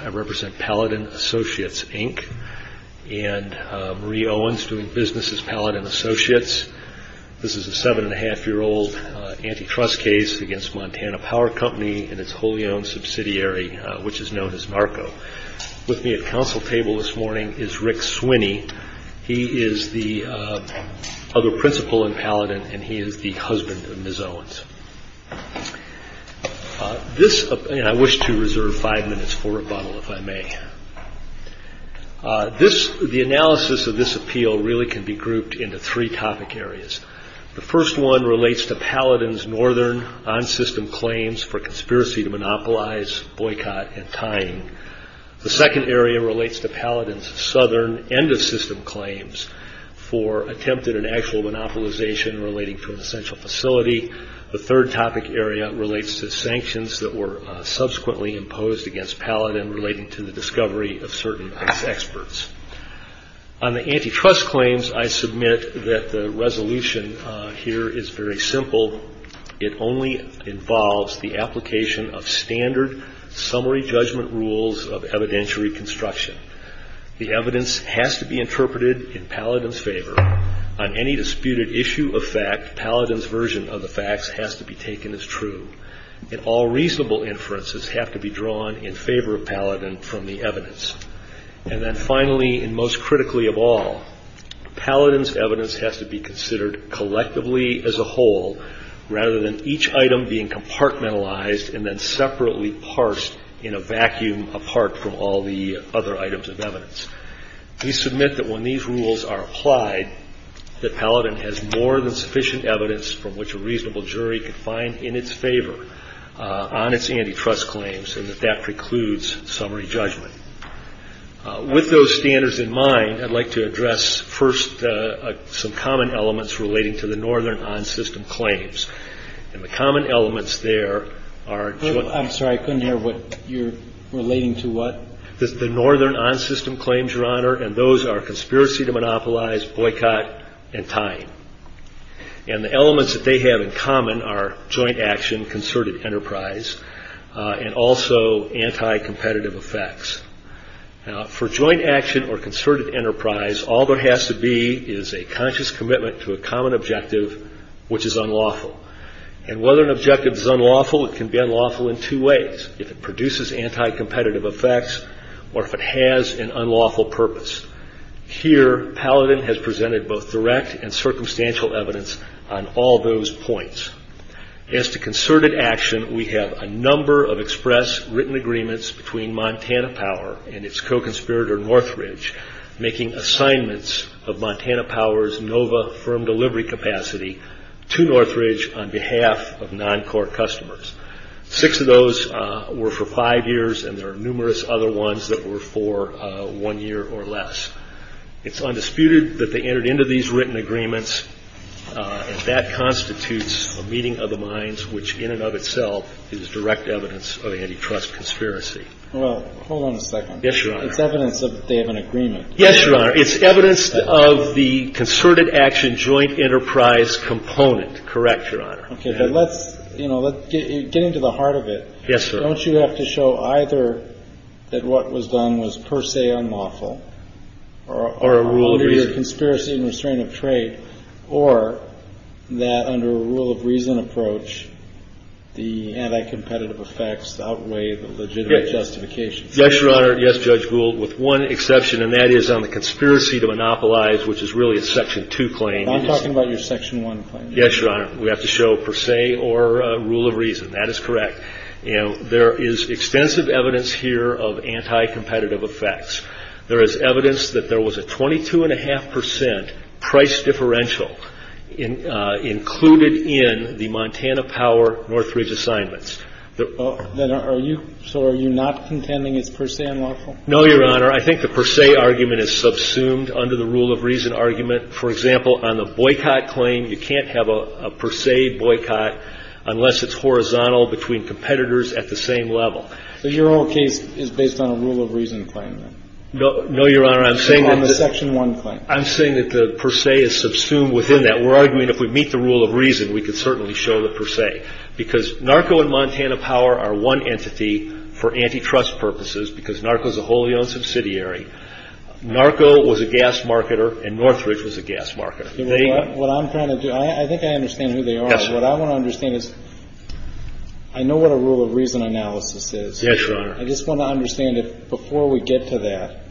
I represent Palladin Associates, Inc., and Marie Owens doing business as Palladin Associates. This is a seven-and-a-half-year-old antitrust case against Montana Power Co. and its wholly owned subsidiary, which is known as NARCO. With me at council table this morning is Rick Swinney. He is the other principal in Palladin, and he is the husband of Ms. Owens. I wish to reserve five minutes for rebuttal, if I may. The analysis of this appeal really can be grouped into three topic areas. The first one relates to Palladin's Northern On-System Claims for Conspiracy to Monopolize, Boycott, and Tying. The second area relates to Palladin's Southern End-of-System Claims for Attempted and Actual Monopolization Relating to an Essential Facility. The third topic area relates to sanctions that were subsequently imposed against Palladin relating to the discovery of certain experts. On the antitrust claims, I submit that the resolution here is very simple. It only involves the application of standard summary judgment rules of evidentiary construction. The evidence has to be interpreted in Palladin's favor. On any disputed issue of fact, Palladin's version of the facts has to be taken as true, and all reasonable inferences have to be drawn in favor of Palladin from the evidence. And then finally, and most critically of all, Palladin's evidence has to be considered collectively as a whole, rather than each item being compartmentalized and then separately parsed in a vacuum apart from all the other items of evidence. We submit that when these rules are applied, that Palladin has more than sufficient evidence from which a reasonable jury can find in its favor on its antitrust claims, and that that precludes summary judgment. With those standards in mind, I'd like to address first some common elements relating to the Northern On-System claims, and the common elements there are joint... I'm sorry, I couldn't hear what you're relating to what? The Northern On-System claims, Your Honor, and those are conspiracy to monopolize, boycott, and tying. And the elements that they have in common are joint action, concerted enterprise, and also anti-competitive effects. For joint action or concerted enterprise, all there has to be is a conscious commitment to a common objective, which is unlawful. And whether an objective is unlawful, it can be unlawful in two ways, if it produces anti-competitive effects or if it has an unlawful purpose. Here, Palladin has presented both direct and circumstantial evidence on all those points. As to concerted action, we have a number of express written agreements between Montana Power and its co-conspirator, Northridge, making assignments of Montana Power's NOVA firm delivery capacity to Northridge on behalf of non-corp customers. Six of those were for five years, and there are numerous other ones that were for one year or less. It's undisputed that they entered into these written agreements, and that constitutes a meeting of the minds, which in and of itself is direct evidence of antitrust conspiracy. Well, hold on a second. Yes, Your Honor. It's evidence that they have an agreement. Yes, Your Honor. It's evidence of the concerted action joint enterprise component. Correct, Your Honor. Okay. But let's, you know, let's get into the heart of it. Yes, sir. Don't you have to show either that what was done was per se unlawful or a conspiracy and restraint of trade, or that under a rule of reason approach, the anti-competitive effects outweigh the legitimate justifications? Yes, Your Honor. Yes, Judge Gould, with one exception, and that is on the conspiracy to monopolize, which is really a Section 2 claim. I'm talking about your Section 1 claim. Yes, Your Honor. We have to show per se or a rule of reason. That is correct. You know, there is extensive evidence here of anti-competitive effects. There is evidence that there was a 22.5% price differential included in the Montana Power Northridge assignments. So are you not contending it's per se unlawful? No, Your Honor. I think the per se argument is subsumed under the rule of reason argument. For example, on the boycott claim, you can't have a per se boycott unless it's horizontal between competitors at the same level. So your whole case is based on a rule of reason claim, then? No, Your Honor. I'm saying that the per se is subsumed within that. We're arguing if we meet the rule of reason, we can certainly show the per se, because NARCO and Montana Power are one entity for antitrust purposes, because NARCO is a wholly owned subsidiary. NARCO was a gas marketer, and Northridge was a gas marketer. What I'm trying to do, I think I understand who they are. What I want to understand is, I know what a rule of reason analysis is. Yes, Your Honor. I just want to understand if before we get to that,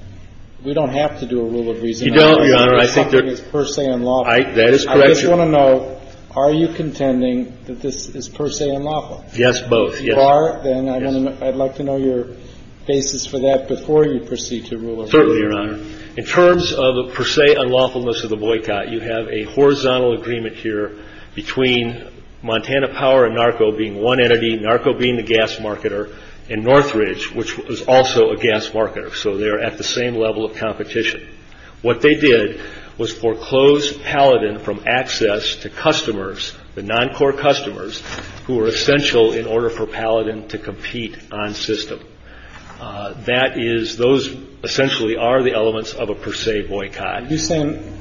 we don't have to do a rule of reason That is correct, Your Honor. I just want to know, are you contending that this is per se unlawful? Yes, both, yes. Bar then, I'd like to know your basis for that before you proceed to rule of reason. Certainly, Your Honor. In terms of per se unlawfulness of the boycott, you have a horizontal agreement here between Montana Power and NARCO being one entity, NARCO being the gas marketer, and Northridge, which was also a gas marketer. So they're at the same level of competition. What they did was foreclose Paladin from access to customers, the non-core customers, who were essential in order for Paladin to compete on system. That is, those essentially are the elements of a per se boycott. You're saying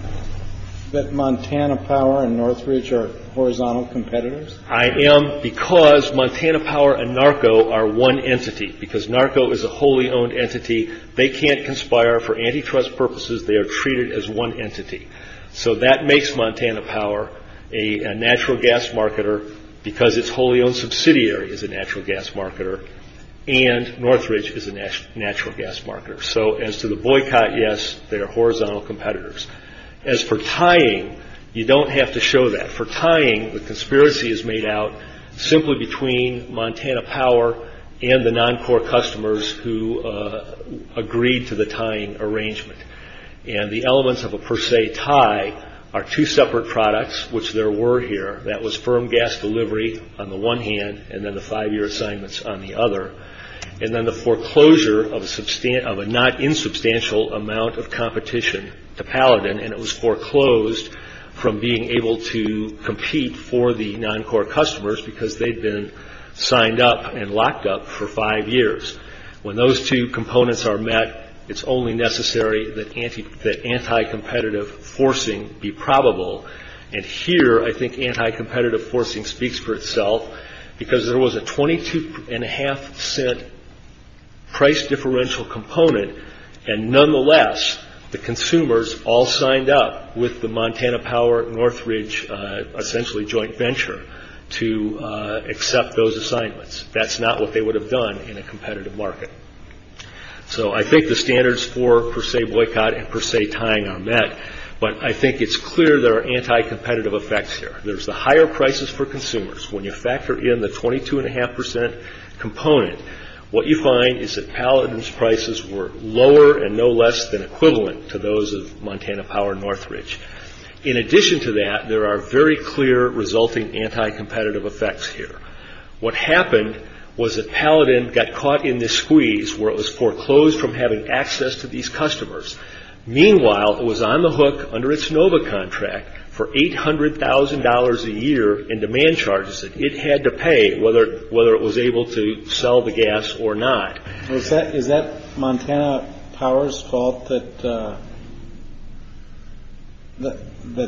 that Montana Power and Northridge are horizontal competitors? I am, because Montana Power and NARCO are one entity, because NARCO is a wholly owned entity. They can't conspire for antitrust purposes. They are treated as one entity. So that makes Montana Power a natural gas marketer, because it's wholly owned subsidiary is a natural gas marketer, and Northridge is a natural gas marketer. So as to the boycott, yes, they are horizontal competitors. As for tying, you don't have to show that. For tying, the conspiracy is made out simply between Montana Power and the non-core customers who agreed to the tying arrangement. The elements of a per se tie are two separate products, which there were here. That was firm gas delivery on the one hand, and then the five-year assignments on the other. Then the foreclosure of a not insubstantial amount of competition to Paladin, and it was foreclosed from being able to compete for the non-core customers, because they'd been signed up and locked up for five years. When those two components are met, it's only necessary that anti-competitive forcing be probable. Here, I think anti-competitive forcing speaks for itself, because there was a 22.5 cent price differential component, and nonetheless, the consumers all signed up with the Montana Power, Northridge, essentially joint venture, to accept those assignments. That's not what they would have done in a competitive market. I think the standards for per se boycott and per se tying are met, but I think it's clear there are anti-competitive effects here. There's the higher prices for consumers. When you factor in the 22.5 percent component, what you find is that Paladin's prices were lower and no less than equivalent to those of Montana Power and Northridge. In addition to that, there are very clear resulting anti-competitive effects here. What happened was that Paladin got caught in this squeeze, where it was foreclosed from having access to these customers. Meanwhile, it was on the hook under its NOVA contract for $800,000 a year in demand charges, that it had to pay whether it was able to sell the gas or not. Is that Montana Power's fault that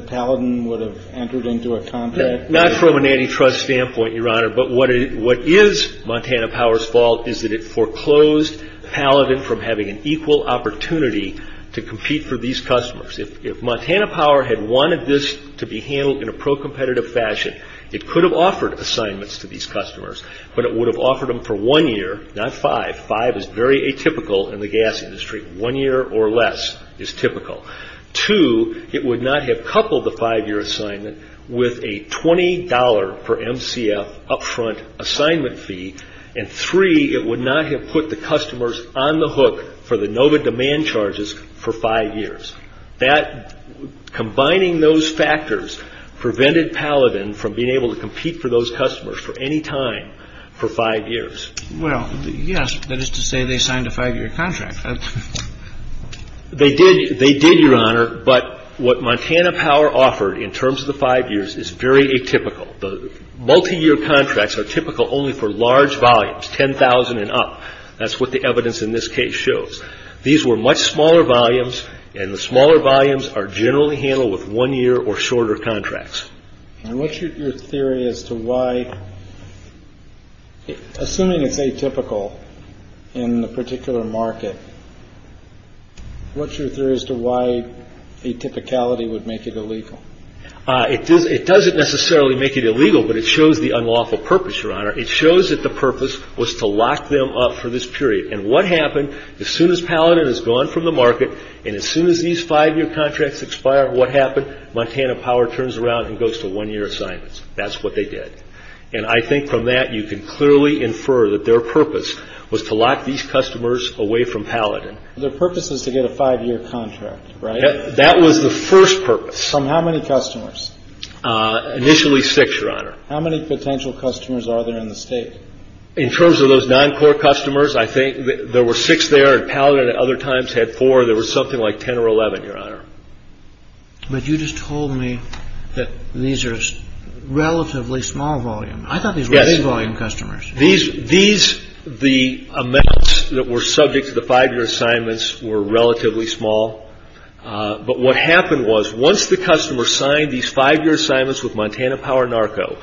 Paladin would have entered into a contract? Not from an antitrust standpoint, Your Honor, but what is Montana Power's fault is that it foreclosed Paladin from having an equal opportunity to compete for these customers. If Montana Power had wanted this to be handled in a pro-competitive fashion, it could have offered assignments to these customers, but it would have offered them for one year, not five. Five is very atypical in the gas industry. One year or less is typical. Two, it would not have coupled the five-year assignment with a $20 per MCF upfront assignment fee. Three, it would not have put the customers on the hook for the NOVA demand charges for five years. That combining those factors prevented Paladin from being able to compete for those customers for any time for five years. Well, yes, that is to say they signed a five-year contract. They did, Your Honor, but what Montana Power offered in terms of the five years is very atypical. The multi-year contracts are typical only for large volumes, 10,000 and up. That's what the evidence in this case shows. These were much smaller volumes, and the smaller volumes are generally handled with one-year or shorter contracts. And what's your theory as to why, assuming it's atypical in the particular market, what's your theory as to why atypicality would make it illegal? It doesn't necessarily make it illegal, but it shows the unlawful purpose, Your Honor. It shows that the purpose was to lock them up for this period. And what happened, as soon as Paladin has gone from the market, and as soon as these five-year contracts expire, what happened? Montana Power turns around and goes to one-year assignments. That's what they did. And I think from that, you can clearly infer that their purpose was to lock these customers away from Paladin. Their purpose is to get a five-year contract, right? That was the first purpose. From how many customers? Initially six, Your Honor. How many potential customers are there in the state? In terms of those non-core customers, I think there were six there, and Paladin at other times had four. There was something like 10 or 11, Your Honor. But you just told me that these are relatively small volume. I thought these were big volume customers. Yes. These, the amounts that were subject to the five-year assignments were relatively small. But what happened was, once the customer signed these five-year assignments with Montana Power Narco,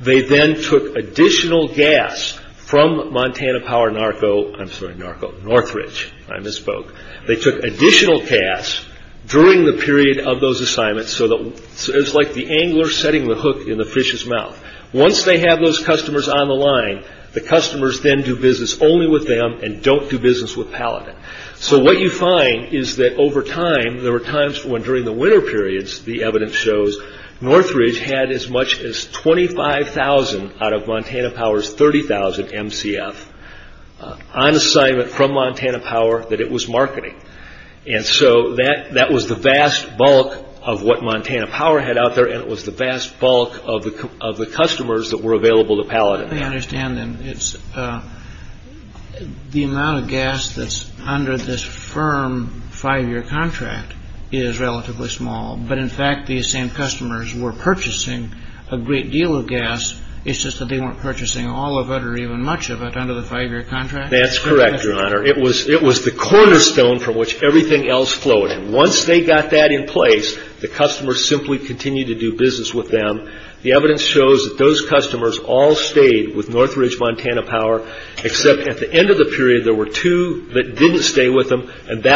they then took additional gas from Montana Power Narco, I'm sorry, Narco, Northridge, I misspoke. They took additional gas during the period of those assignments, so it's like the angler setting the hook in the fish's mouth. Once they have those customers on the line, the customers then do business only with them and don't do business with Paladin. So what you find is that over time, there were times when during the winter periods, the evidence shows, Northridge had as much as 25,000 out of Montana Power's 30,000 MCF on assignment from Montana Power that it was marketing. And so that was the vast bulk of what Montana Power had out there, and it was the vast bulk of the customers that were available to Paladin. I understand then, the amount of gas that's under this firm five-year contract is relatively small. But in fact, these same customers were purchasing a great deal of gas. It's just that they weren't purchasing all of it or even much of it under the five-year contract? That's correct, Your Honor. It was the cornerstone from which everything else flowed. And once they got that in place, the customers simply continued to do business with them. The evidence shows that those customers all stayed with Northridge Montana Power, except at the end of the period, there were two that didn't stay with them, What makes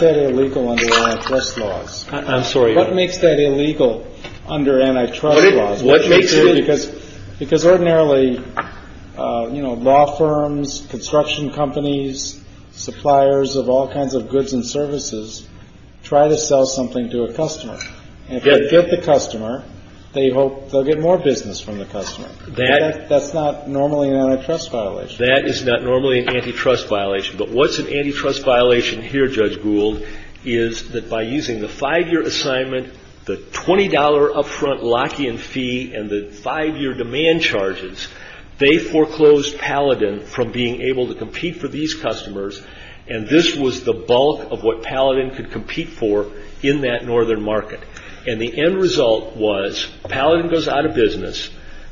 that illegal under antitrust laws? I'm sorry, Your Honor. What makes that illegal under antitrust laws? What makes it illegal? Because ordinarily, you know, law firms, construction companies, suppliers of all kinds of goods and services try to sell something to a customer. And if they get the customer, they hope they'll get more business from the customer. That's not normally an antitrust violation. That is not normally an antitrust violation. But what's an antitrust violation here, Judge Gould, is that by using the five-year assignment, the $20 upfront Lockian fee and the five-year demand charges, they foreclosed Paladin from being able to compete for these customers. And this was the bulk of what Paladin could compete for in that northern market. And the end result was Paladin goes out of business,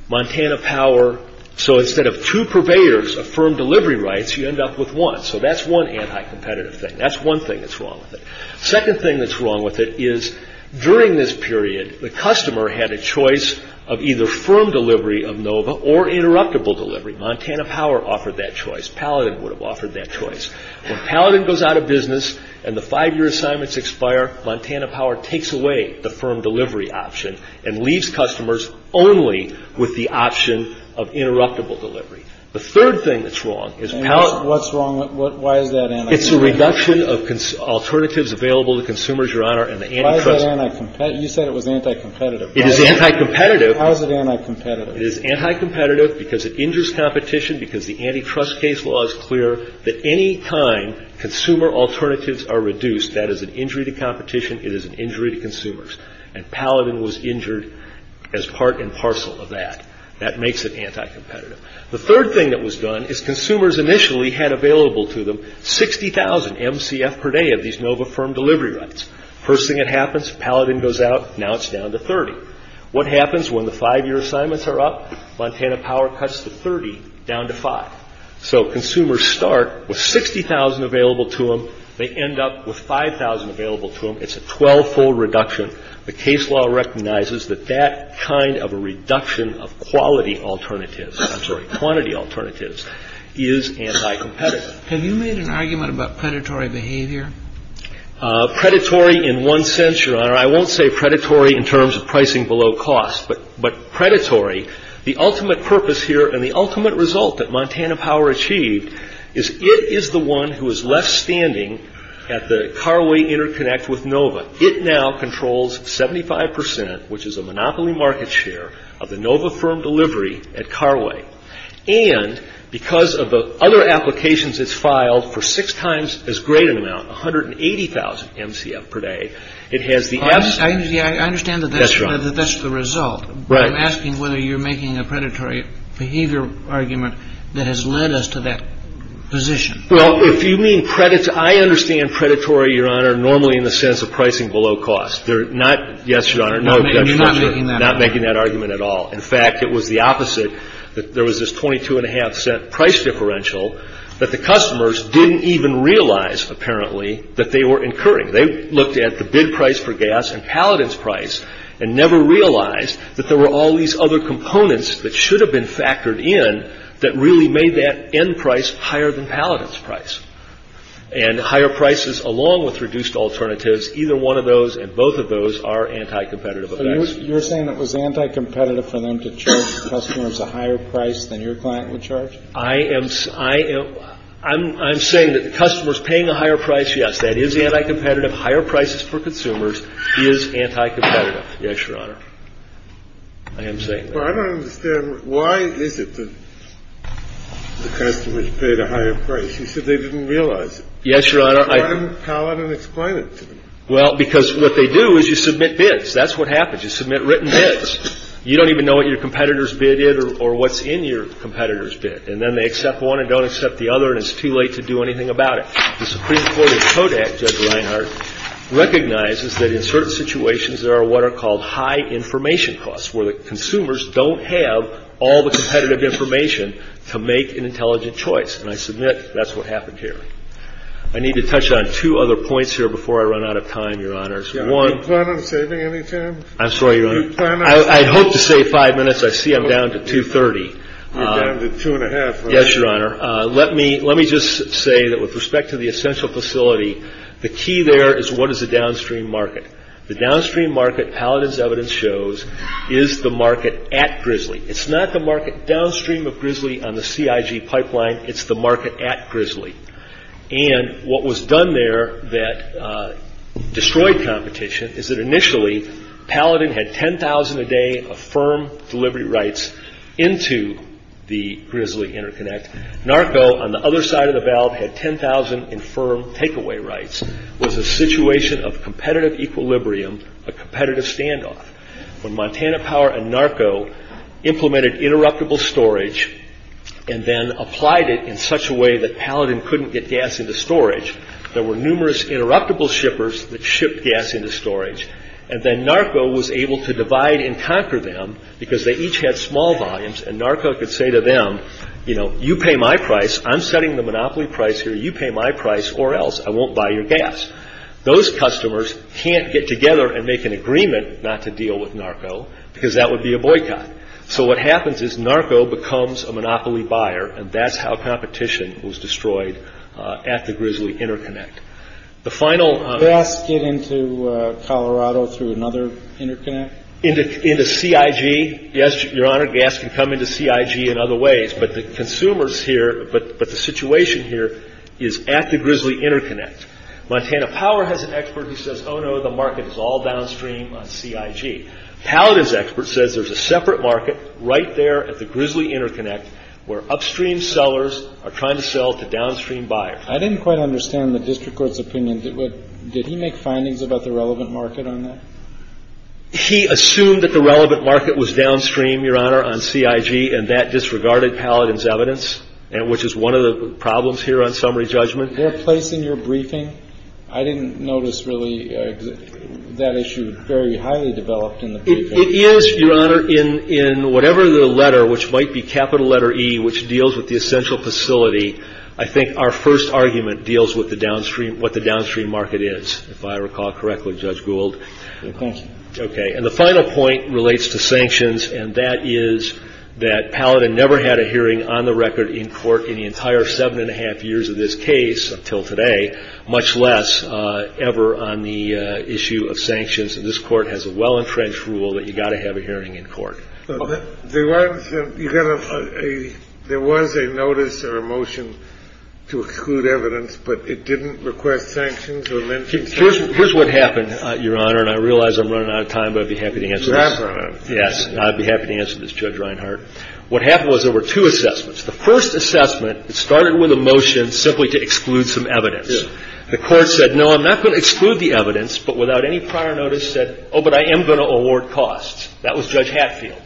Montana Power, So instead of two purveyors of firm delivery rights, you end up with one. So that's one anti-competitive thing. That's one thing that's wrong with it. Second thing that's wrong with it is during this period, the customer had a choice of either firm delivery of NOVA or interruptible delivery. Montana Power offered that choice. Paladin would have offered that choice. When Paladin goes out of business and the five-year assignments expire, Montana Power takes away the firm delivery option and leaves customers only with the option of interruptible delivery. The third thing that's wrong is Paladin. What's wrong? Why is that anti-competitive? It's a reduction of alternatives available to consumers, Your Honor, and the antitrust. Why is that anti-competitive? You said it was anti-competitive. It is anti-competitive. How is it anti-competitive? It is anti-competitive because it injures competition, because the antitrust case law is clear that any kind, consumer alternatives are reduced. That is an injury to competition. It is an injury to consumers. And Paladin was injured as part and parcel of that. That makes it anti-competitive. The third thing that was done is consumers initially had available to them 60,000 MCF per day of these NOVA firm delivery rights. First thing that happens, Paladin goes out. Now it's down to 30. What happens when the five-year assignments are up? Montana Power cuts the 30 down to 5. So consumers start with 60,000 available to them. They end up with 5,000 available to them. It's a 12-fold reduction. The case law recognizes that that kind of a reduction of quality alternatives, I'm sorry, quantity alternatives is anti-competitive. Have you made an argument about predatory behavior? Predatory in one sense, Your Honor. I won't say predatory in terms of pricing below cost, but predatory. The ultimate purpose here and the ultimate result that Montana Power achieved is it is the one who is left standing at the carway interconnect with NOVA. It now controls 75%, which is a monopoly market share of the NOVA firm delivery at carway. And because of the other applications it's filed for six times as great an amount, 180,000 MCF per day, it has the absolute. I understand that that's the result. I'm asking whether you're making a predatory behavior argument that has led us to that position. Well, if you mean predatory, I understand predatory, Your Honor, normally in the sense of pricing below cost. They're not, yes, Your Honor, no, I'm not making that argument at all. In fact, it was the opposite. There was this 22.5 cent price differential that the customers didn't even realize, apparently, that they were incurring. They looked at the bid price for gas and Paladin's price and never realized that there were all these other components that should have been factored in that really made that end price higher than Paladin's price. And higher prices, along with reduced alternatives, either one of those and both of those are anti-competitive. So you're saying it was anti-competitive for them to charge customers a higher price than your client would charge? I am saying that the customers paying a higher price, yes, that is anti-competitive. Higher prices for consumers is anti-competitive. Yes, Your Honor, I am saying that. But I don't understand why is it that the customers paid a higher price? You said they didn't realize it. Yes, Your Honor. Why didn't Paladin explain it to them? Well, because what they do is you submit bids. That's what happens. You submit written bids. You don't even know what your competitor's bid is or what's in your competitor's bid. And then they accept one and don't accept the other, and it's too late to do anything about it. The Supreme Court of Kodak, Judge Reinhart, recognizes that in certain situations there are what are called high information costs, where the consumers don't have all the competitive information to make an intelligent choice. And I submit that's what happened here. I need to touch on two other points here before I run out of time, Your Honors. One. Are you planning on saving any time? I'm sorry, Your Honor. Are you planning on saving any time? I hope to save five minutes. I see I'm down to 2.30. You're down to two and a half. Yes, Your Honor. Let me just say that with respect to the essential facility, the key there is what is the downstream market. The downstream market, Paladin's evidence shows, is the market at Grizzly. It's not the market downstream of Grizzly on the CIG pipeline. It's the market at Grizzly. And what was done there that destroyed competition is that initially Paladin had 10,000 a day of firm delivery rights into the Grizzly Interconnect. NARCO on the other side of the valve had 10,000 in firm takeaway rights. It was a situation of competitive equilibrium, a competitive standoff. When Montana Power and NARCO implemented interruptible storage and then applied it in such a way that Paladin couldn't get gas into storage. There were numerous interruptible shippers that shipped gas into storage. And then NARCO was able to divide and conquer them because they each had small volumes. And NARCO could say to them, you know, you pay my price. I'm setting the monopoly price here. You pay my price or else. I won't buy your gas. Those customers can't get together and make an agreement not to deal with NARCO because that would be a boycott. So what happens is NARCO becomes a monopoly buyer. And that's how competition was destroyed at the Grizzly Interconnect. The final- Gas get into Colorado through another interconnect? Into CIG. Yes, your honor, gas can come into CIG in other ways. But the consumers here, but the situation here is at the Grizzly Interconnect. Montana Power has an expert who says, oh, no, the market is all downstream on CIG. Paladin's expert says there's a separate market right there at the Grizzly Interconnect where upstream sellers are trying to sell to downstream buyers. I didn't quite understand the district court's opinion. Did he make findings about the relevant market on that? He assumed that the relevant market was downstream, your honor, on CIG. And that disregarded Paladin's evidence, which is one of the problems here on summary judgment. Their place in your briefing, I didn't notice really that issue very highly developed in the briefing. It is, your honor, in whatever the letter, which might be capital letter E, which deals with the essential facility. I think our first argument deals with the downstream, what the downstream market is. If I recall correctly, Judge Gould. OK. And the final point relates to sanctions. And that is that Paladin never had a hearing on the record in court in the entire seven and a half years of this case until today, much less ever on the issue of sanctions. And this court has a well-entrenched rule that you've got to have a hearing in court. There was a notice or a motion to exclude evidence, but it didn't request sanctions. Here's what happened, your honor. And I realize I'm running out of time, but I'd be happy to answer this. Yes. I'd be happy to answer this, Judge Reinhart. What happened was there were two assessments. The first assessment, it started with a motion simply to exclude some evidence. The court said, no, I'm not going to exclude the evidence, but without any prior notice said, oh, but I am going to award costs. That was Judge Hatfield.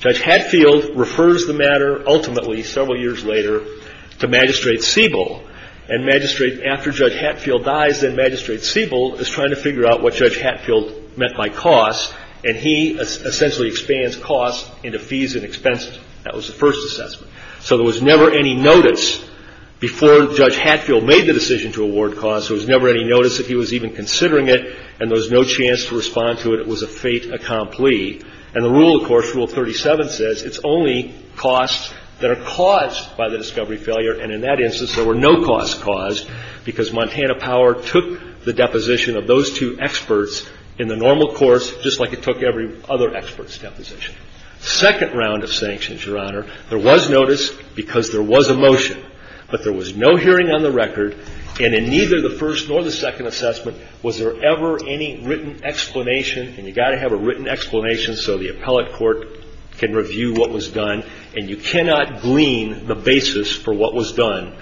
Judge Hatfield refers the matter ultimately several years later to Magistrate Siebel. And Magistrate, after Judge Hatfield dies, then Magistrate Siebel is trying to figure out what Judge Hatfield meant by costs. And he essentially expands costs into fees and expenses. That was the first assessment. So there was never any notice before Judge Hatfield made the decision to award costs. There was never any notice that he was even considering it, and there was no chance to respond to it. It was a fait accompli. And the rule, of course, Rule 37 says it's only costs that are caused by the discovery failure. And in that instance, there were no costs caused because Montana Power took the deposition of those two experts in the normal course, just like it took every other expert's deposition. Second round of sanctions, Your Honor, there was notice because there was a motion, but there was no hearing on the record. And in neither the first nor the second assessment was there ever any written explanation. And you got to have a written explanation so the appellate court can review what was done. And you cannot glean the basis for what was done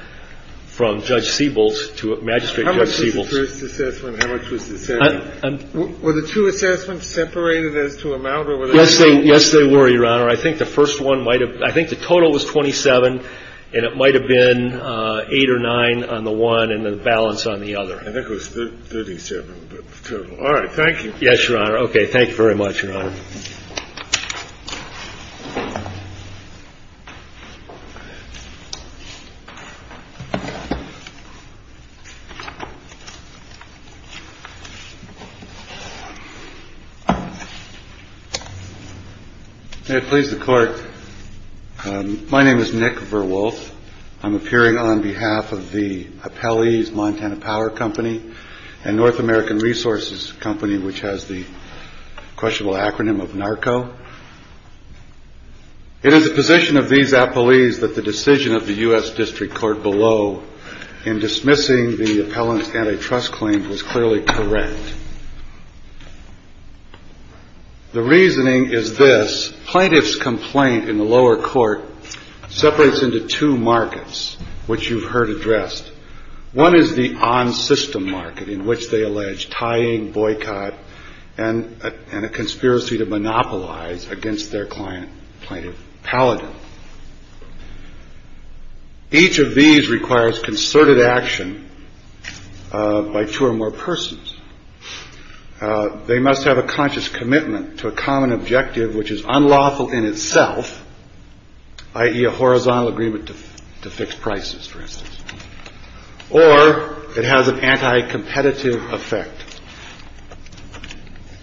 from Judge Siebel's to Magistrate Siebel's. How much was the first assessment and how much was the second? Were the two assessments separated as to amount or whatever? Yes, they were, Your Honor. I think the first one might have been, I think the total was 27, and it might have been 8 or 9 on the one and the balance on the other. I think it was 37, but the total. All right. Thank you. Yes, Your Honor. Okay. Thank you very much, Your Honor. Please. Please. The clerk. My name is Nick Verwolf. I'm appearing on behalf of the Appellee's Montana Power Company and North American Resources Company, which has the questionable acronym of NARCO. It is the position of these appellees that the decision of the U.S. District Court below in dismissing the appellant's antitrust claim was clearly correct. The reasoning is this. Plaintiff's complaint in the lower court separates into two markets, which you've heard addressed. One is the on system market in which they allege tying, boycott and a conspiracy to monopolize against their client plaintiff Paladin. Each of these requires concerted action by two or more persons. They must have a conscious commitment to a common objective, which is unlawful in itself, i.e. a horizontal agreement to fix prices, for instance, or it has an anti competitive effect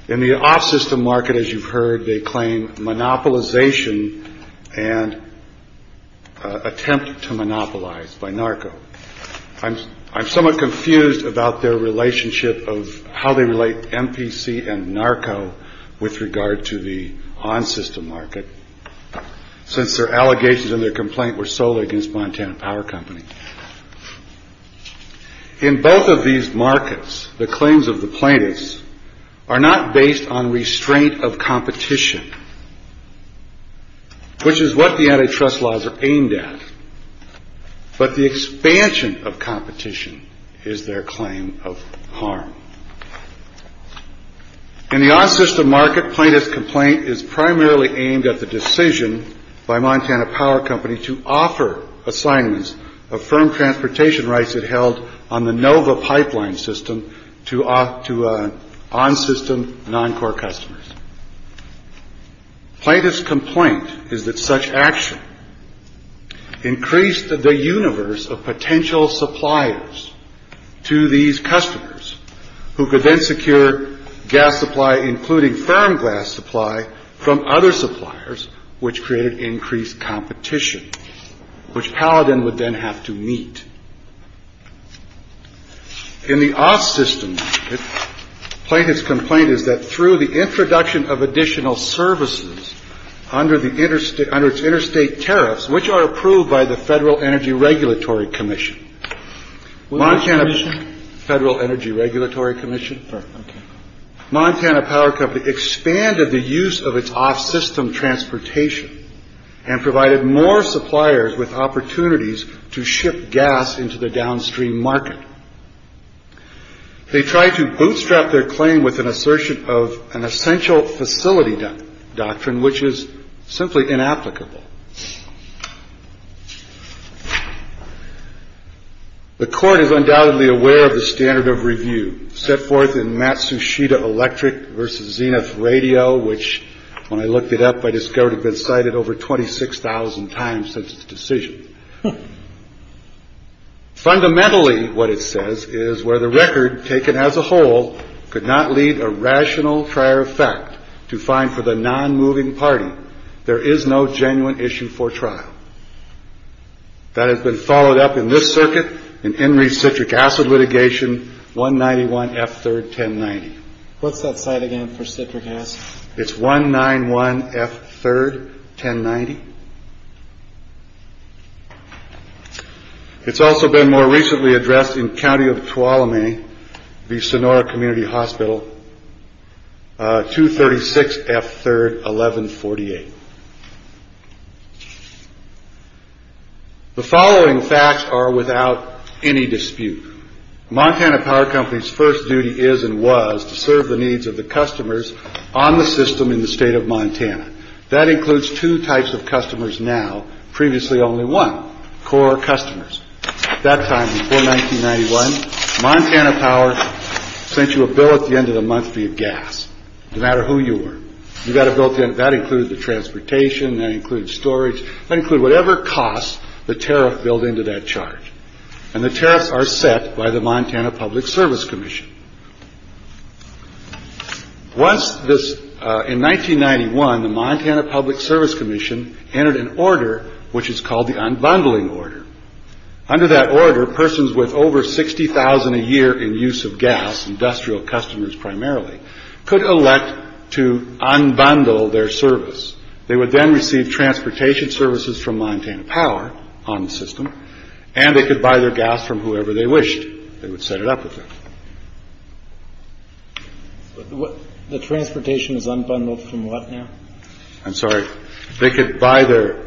in the off system market. As you've heard, they claim monopolization and attempt to monopolize by NARCO. I'm I'm somewhat confused about their relationship of how they relate MPC and NARCO with regard to the on system market, since their allegations and their complaint were solely against Montana Power Company. In both of these markets, the claims of the plaintiffs are not based on restraint of competition. Which is what the antitrust laws are aimed at. But the expansion of competition is their claim of harm. In the on system market, plaintiff's complaint is primarily aimed at the decision by Montana Power Company to offer assignments of firm transportation rights that held on the Nova pipeline system to off to on system non core customers. Plaintiff's complaint is that such action increased the universe of potential suppliers to these customers who could then secure gas supply, including firm gas supply from other suppliers, which created increased competition, which Paladin would then have to meet. In the off system, plaintiff's complaint is that through the introduction of additional services under the interstate under its interstate tariffs, which are approved by the Federal Energy Regulatory Commission, Montana Federal Energy Regulatory Commission for Montana Power Company, expanded the use of its off system transportation and provided more suppliers with opportunities to ship gas into the downstream market. They tried to bootstrap their claim with an assertion of an essential facility doctrine, which is simply inapplicable. The court is undoubtedly aware of the standard of review set forth in Matsushita Electric versus Zenith Radio, which when I looked it up, I discovered had been cited over twenty six thousand times since the decision. Fundamentally, what it says is where the record taken as a whole could not lead a rational prior effect to find for the non moving party. There is no genuine issue for trial that has been followed up in this circuit. And in recentric acid litigation, one ninety one F third ten ninety. What's that site again for citric acid? It's one nine one F third ten ninety. It's also been more recently addressed in county of Tuolumne, the Sonora Community Hospital, two thirty six F third eleven forty eight. The following facts are without any dispute. Montana Power Company's first duty is and was to serve the needs of the customers on the system in the state of Montana. That includes two types of customers. Now, previously only one core customers. That time before 1991, Montana Power sent you a bill at the end of the month via gas. No matter who you were, you got a built in. That includes the transportation. That includes storage. I include whatever costs the tariff built into that charge. And the tariffs are set by the Montana Public Service Commission. Once this in 1991, the Montana Public Service Commission entered an order which is called the unbundling order. Under that order, persons with over 60,000 a year in use of gas, industrial customers primarily could elect to unbundle their service. They would then receive transportation services from Montana Power on the system and they could buy their gas from whoever they wished. They would set it up with the transportation is unbundled from what now? I'm sorry. They could buy their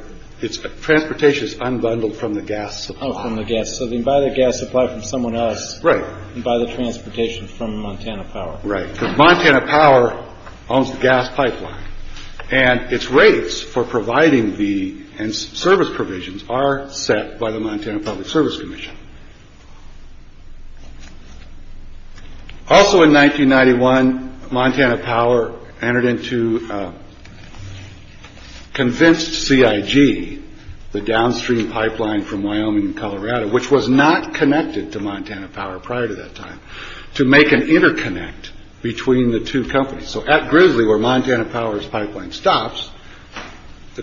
transportation is unbundled from the gas from the gas. So they buy the gas supply from someone else. Right. By the transportation from Montana Power. Right. Montana Power owns the gas pipeline and its rates for providing the service provisions are set by the Montana Public Service Commission. Also in 1991, Montana Power entered into convinced CIG the downstream pipeline from Wyoming, Colorado, which was not connected to Montana Power prior to that time to make an interconnect between the two companies. So at Grizzly, where Montana Power's pipeline stops, the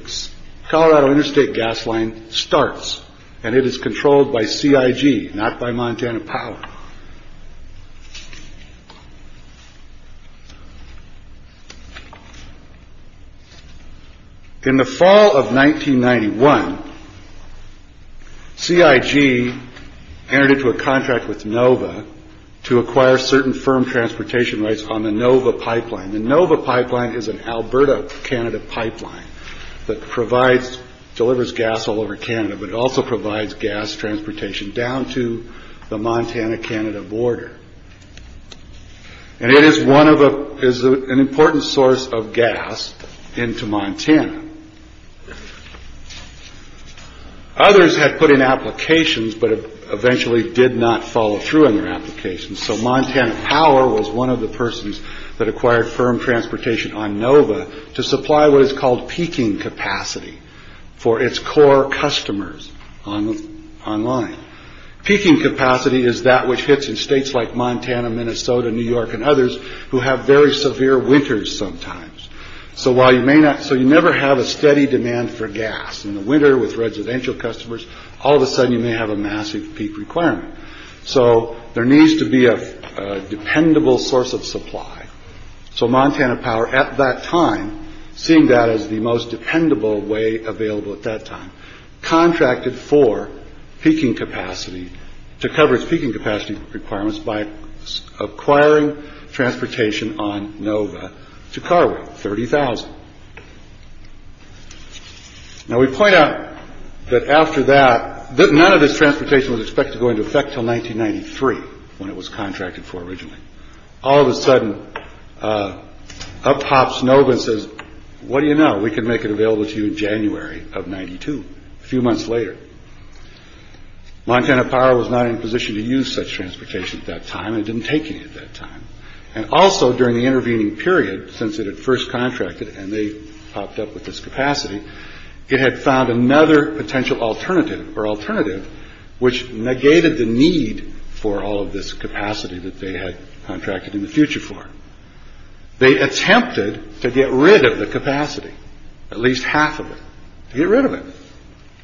Colorado interstate gas line starts and it is controlled by CIG, not by Montana Power. In the fall of 1991, CIG entered into a contract with Nova to acquire certain firm transportation rights on the Nova pipeline. The Nova pipeline is an Alberta, Canada pipeline that provides delivers gas all over Canada, but also provides gas transportation down to the Montana, Canada border. And it is one of the is an important source of gas into Montana. Others had put in applications, but eventually did not follow through on their applications. So Montana Power was one of the persons that acquired firm transportation on Nova to supply what is called peaking capacity for its core customers on online. Peaking capacity is that which hits in states like Montana, Minnesota, New York and others who have very severe winters sometimes. So while you may not. So you never have a steady demand for gas in the winter with residential customers. All of a sudden you may have a massive peak requirement. So there needs to be a dependable source of supply. So Montana Power at that time, seeing that as the most dependable way available at that time, contracted for peaking capacity to cover its peaking capacity requirements by acquiring transportation on Nova to Carway, 30,000. Now, we point out that after that, that none of this transportation was expected to go into effect till 1993 when it was contracted for originally. All of a sudden, up pops Nova says, what do you know? We can make it available to you in January of 92. A few months later, Montana Power was not in position to use such transportation at that time. It didn't take you at that time. And also during the intervening period, since it had first contracted and they popped up with this capacity, it had found another potential alternative or alternative, which negated the need for all of this capacity that they had contracted in the future for. They attempted to get rid of the capacity, at least half of it, get rid of it.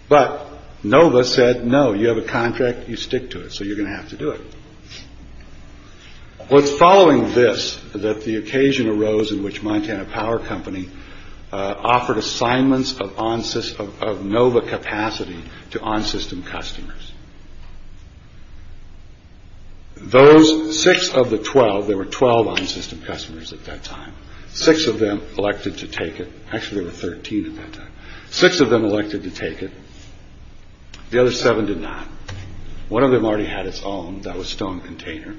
But Nova said, no, you have a contract. You stick to it. So you're going to have to do it. What's following this, that the occasion arose in which Montana Power Company offered assignments of Nova capacity to on-system customers. Those six of the 12, there were 12 on-system customers at that time, six of them elected to take it. Actually, there were 13 at that time. Six of them elected to take it. The other seven did not. One of them already had its own. That was Stone Container.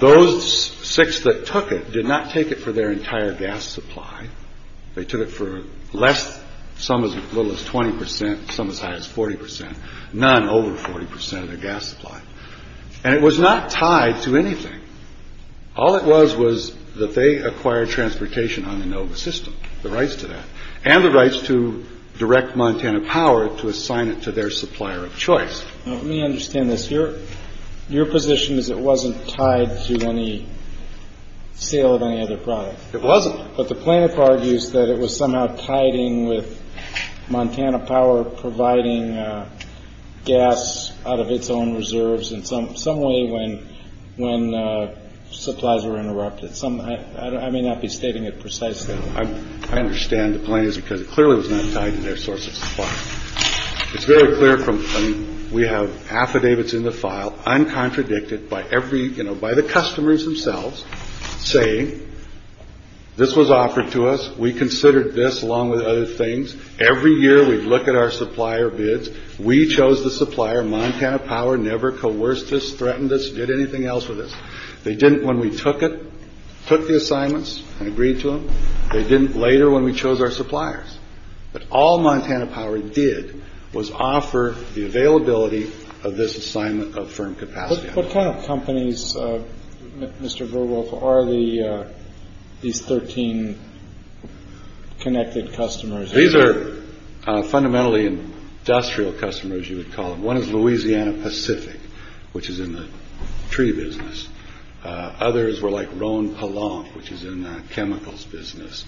Those six that took it did not take it for their entire gas supply. They took it for less. Some as little as 20 percent, some as high as 40 percent, none over 40 percent of their gas supply. And it was not tied to anything. All it was was that they acquired transportation on the Nova system. The rights to that and the rights to direct Montana Power to assign it to their supplier of choice. Let me understand this here. Your position is it wasn't tied to any sale of any other product. It wasn't. But the plaintiff argues that it was somehow tiding with Montana Power providing gas out of its own reserves. And some some way when when supplies were interrupted, some I may not be stating it precisely. I understand the plaintiffs because it clearly was not tied to their source of supply. It's very clear from. We have affidavits in the file. I'm contradicted by every, you know, by the customers themselves saying this was offered to us. We considered this along with other things. Every year we look at our supplier bids. We chose the supplier. Montana Power never coerced us, threatened us, did anything else with us. They didn't. When we took it, took the assignments and agreed to them. They didn't later when we chose our suppliers. But all Montana Power did was offer the availability of this assignment of firm capacity. What kind of companies, Mr. Verwolf, are the these 13 connected customers? These are fundamentally industrial customers, you would call them. One is Louisiana Pacific, which is in the tree business. Others were like Ron Palon, which is in chemicals business.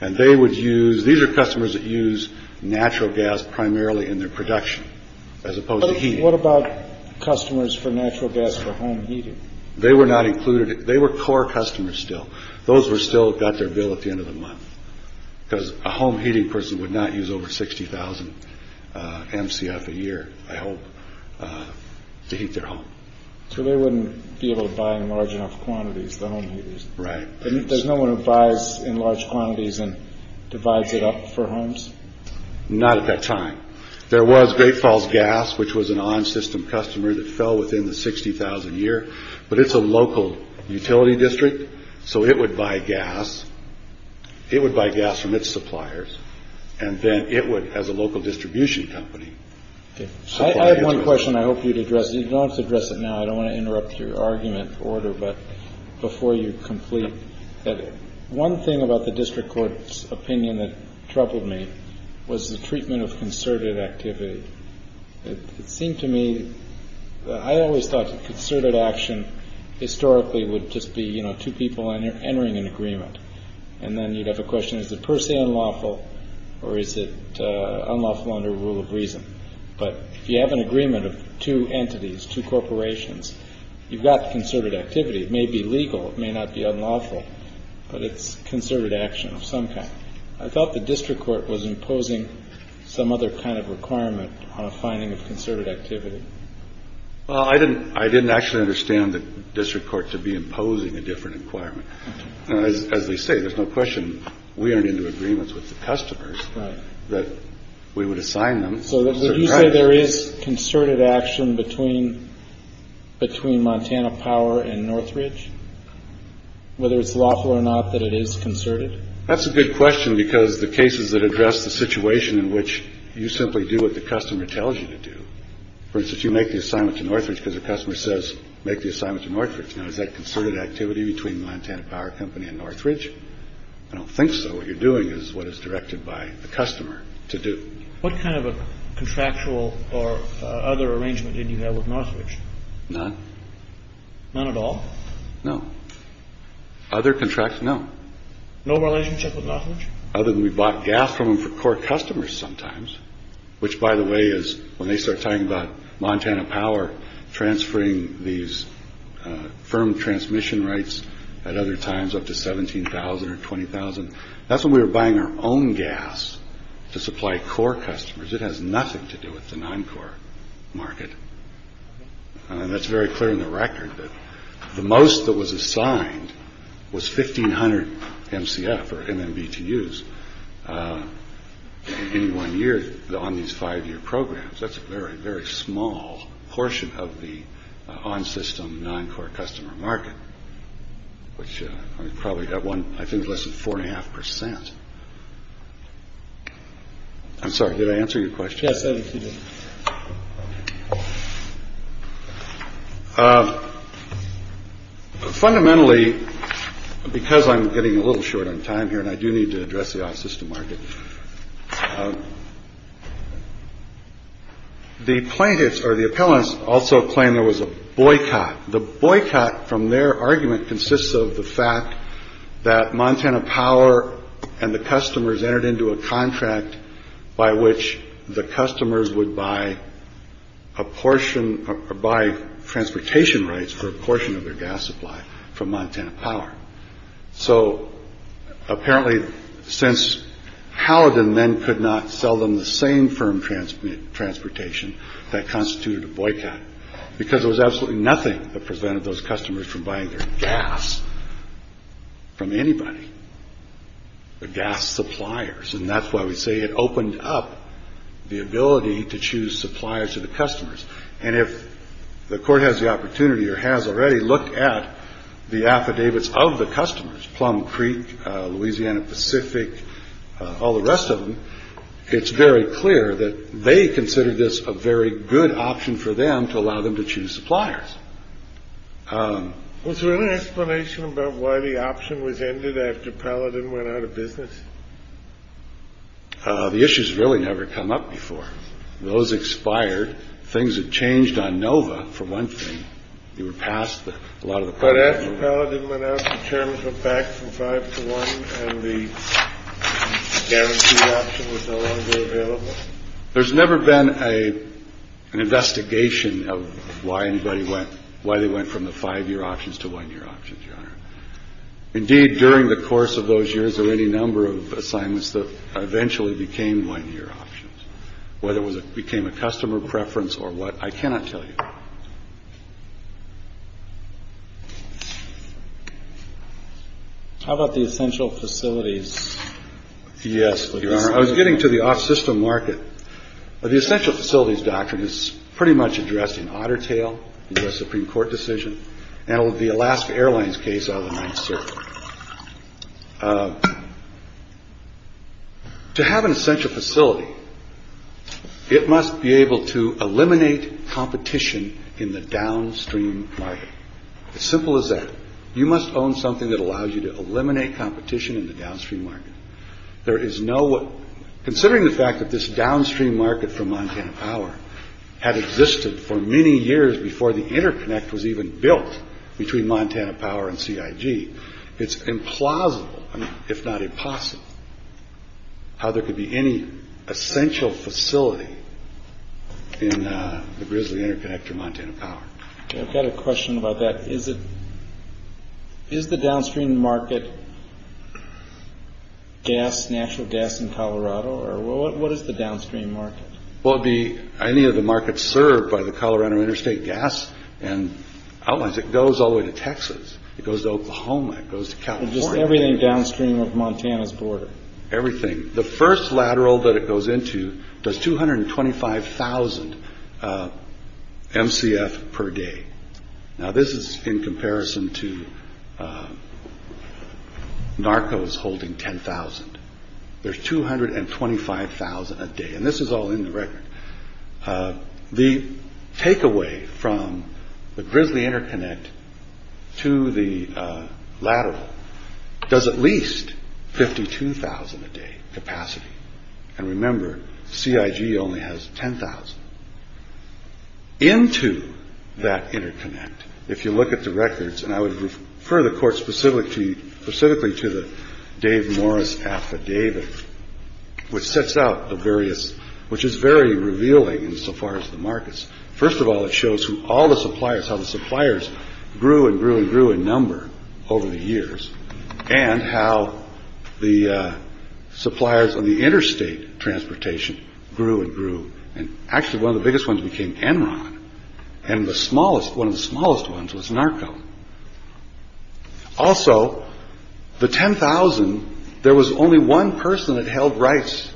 And they would use these are customers that use natural gas primarily in their production as opposed to heat. What about customers for natural gas for home heating? They were not included. They were core customers still. Those were still got their bill at the end of the month. Because a home heating person would not use over 60,000 MCF a year, I hope, to heat their home. So they wouldn't be able to buy in large enough quantities, the home heaters? Right. And there's no one who buys in large quantities and divides it up for homes? Not at that time. There was Great Falls Gas, which was an on-system customer that fell within the 60,000 year. But it's a local utility district. So it would buy gas. It would buy gas from its suppliers. And then it would, as a local distribution company. So I have one question I hope you'd address. You don't address it now. I don't want to interrupt your argument order. But before you complete it. One thing about the district court's opinion that troubled me was the treatment of concerted activity. It seemed to me, I always thought concerted action historically would just be, you know, two people entering an agreement. And then you'd have a question, is it per se unlawful or is it unlawful under a rule of reason? But if you have an agreement of two entities, two corporations, you've got concerted activity. It may be legal. It may not be unlawful. But it's concerted action of some kind. I thought the district court was imposing some other kind of requirement on a finding of concerted activity. I didn't I didn't actually understand the district court to be imposing a different requirement. As they say, there's no question we aren't into agreements with the customers that we would assign them. So there is concerted action between between Montana Power and Northridge. Whether it's lawful or not, that it is concerted. That's a good question, because the cases that address the situation in which you simply do what the customer tells you to do, for instance, you make the assignment to Northridge because the customer says make the assignment to Northridge. Now, is that concerted activity between Montana Power Company and Northridge? I don't think so. What you're doing is what is directed by the customer to do. What kind of a contractual or other arrangement did you have with Northridge? None. None at all. No. Other contracts? No. No relationship with Northridge. Other than we bought gas from them for core customers sometimes, which, by the way, is when they start talking about Montana Power transferring these firm transmission rights at other times up to 17000 or 20000. That's when we were buying our own gas to supply core customers. It has nothing to do with the non-core market. And that's very clear in the record that the most that was assigned was fifteen hundred MCF or MBT use in one year on these five year programs. That's a very, very small portion of the on system non-core customer market, which probably got one, I think, less than four and a half percent. I'm sorry. Did I answer your question? Yes. Fundamentally, because I'm getting a little short on time here and I do need to address the system market. The plaintiffs or the appellants also claim there was a boycott. The boycott from their argument consists of the fact that Montana Power and the customers entered into a contract by which the customers would buy a portion by transportation rights for a portion of their gas supply from Montana Power. So apparently, since Howden then could not sell them the same firm transmit transportation that constituted a boycott because there was absolutely nothing that prevented those customers from buying their gas from anybody. The gas suppliers. And that's why we say it opened up the ability to choose suppliers to the customers. And if the court has the opportunity or has already looked at the affidavits of the customers, Plum Creek, Louisiana Pacific, all the rest of them, it's very clear that they consider this a very good option for them to allow them to choose suppliers. Was there an explanation about why the option was ended after Paladin went out of business? The issues really never come up before. Those expired. Things have changed on Nova for one thing. You were passed a lot of the credit. I didn't want to turn it back from five to one. And the option was no longer available. There's never been a an investigation of why anybody went why they went from the five year options to one year options. Indeed, during the course of those years or any number of assignments that eventually became one year options, whether it was it became a customer preference or what, I cannot tell you. How about the essential facilities? Yes. I was getting to the off system market of the essential facilities. Doctrine is pretty much addressed in Otter Tail, the Supreme Court decision. Now, the Alaska Airlines case on the night to have an essential facility, it must be able to eliminate competition in the downstream market. Simple as that. You must own something that allows you to eliminate competition in the downstream market. There is no considering the fact that this downstream market for Montana power had existed for many years before the interconnect was even built between Montana Power and CIG. It's implausible, if not impossible. How there could be any essential facility in the grizzly interconnect to Montana Power. I've got a question about that. Is it is the downstream market gas, natural gas in Colorado or what is the downstream market? Well, the any of the markets served by the Colorado Interstate Gas and Outlines, it goes all the way to Texas. It goes to Oklahoma. It goes to California. Just everything downstream of Montana's border. Everything. The first lateral that it goes into does two hundred and twenty five thousand MCF per day. Now, this is in comparison to Narcos holding ten thousand. There's two hundred and twenty five thousand a day. And this is all in the record. The takeaway from the grizzly interconnect to the lateral does at least fifty two thousand a day capacity. And remember, CIG only has ten thousand into that interconnect. If you look at the records and I would refer the court specifically to the Dave Morris affidavit, which sets out the various, which is very revealing insofar as the markets. First of all, it shows who all the suppliers, how the suppliers grew and grew and grew in number over the years and how the suppliers of the interstate transportation grew and grew. And actually, one of the biggest ones became Enron. And the smallest, one of the smallest ones was Narco. Also, the ten thousand, there was only one person that held rights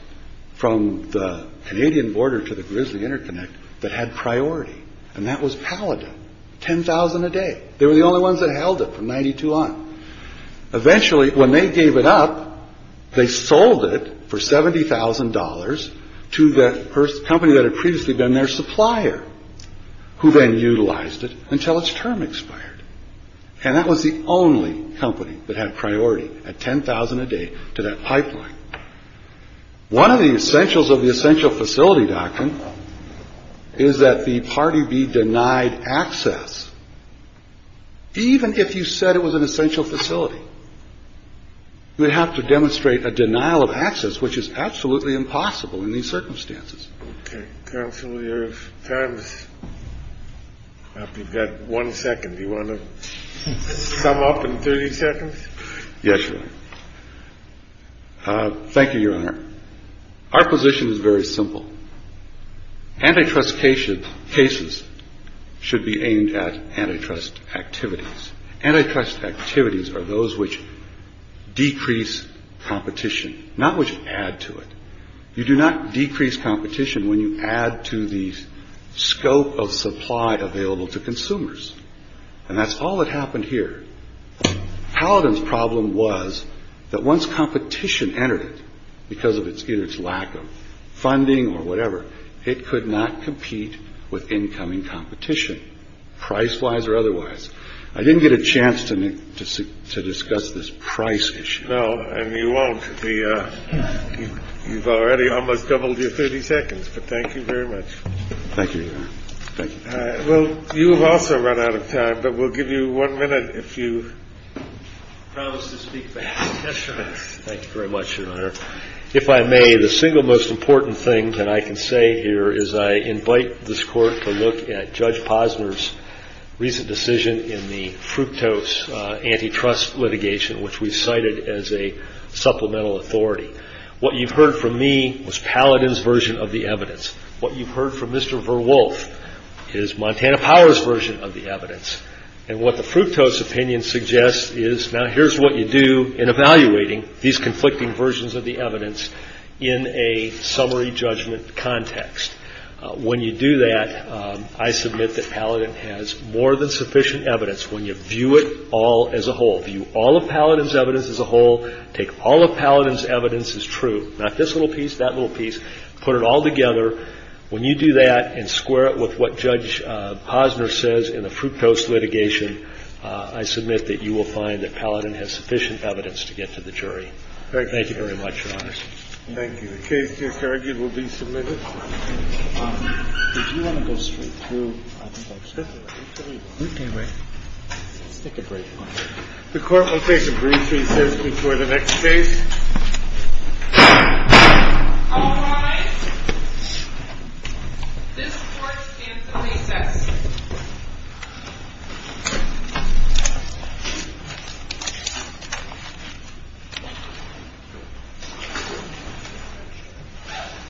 from the Canadian border to the grizzly interconnect that had priority. And that was Paladin. Ten thousand a day. They were the only ones that held it from ninety two on. Eventually, when they gave it up, they sold it for seventy thousand dollars to the first company that had previously been their supplier, who then utilized it until its term expired. And that was the only company that had priority at ten thousand a day to that pipeline. One of the essentials of the essential facility doctrine is that the party be denied access. Even if you said it was an essential facility. We have to demonstrate a denial of access, which is absolutely impossible in these circumstances. Counselor, you've got one second. You want to sum up in 30 seconds? Yes. Thank you, Your Honor. Our position is very simple. Antitrust cases, cases should be aimed at antitrust activities. Antitrust activities are those which decrease competition, not which add to it. You do not decrease competition when you add to the scope of supply available to consumers. And that's all that happened here. Paladin's problem was that once competition entered it because of its either its lack of funding or whatever, it could not compete with incoming competition price wise or otherwise. I didn't get a chance to me to to discuss this price issue. No, you won't be. You've already almost doubled your 30 seconds. But thank you very much. Thank you. Well, you have also run out of time, but we'll give you one minute if you promise to speak. Thank you very much, Your Honor. If I may, the single most important thing that I can say here is I invite this court to look at Judge Posner's recent decision in the fructose antitrust litigation, which we cited as a supplemental authority. What you've heard from me was Paladin's version of the evidence. What you've heard from Mr. Verwolf is Montana Power's version of the evidence. And what the fructose opinion suggests is now here's what you do in evaluating these conflicting versions of the evidence in a summary judgment context. When you do that, I submit that Paladin has more than sufficient evidence when you view it all as a whole. View all of Paladin's evidence as a whole. Take all of Paladin's evidence as true. Not this little piece, that little piece. Put it all together. When you do that and square it with what Judge Posner says in the fructose litigation, I submit that you will find that Paladin has sufficient evidence to get to the jury. Thank you very much, Your Honor. Thank you. The case to be argued will be submitted. Did you want to go straight through? I think I should. Okay. Let's take a break. The court will take a brief recess before the next case. All rise. This court is recessed.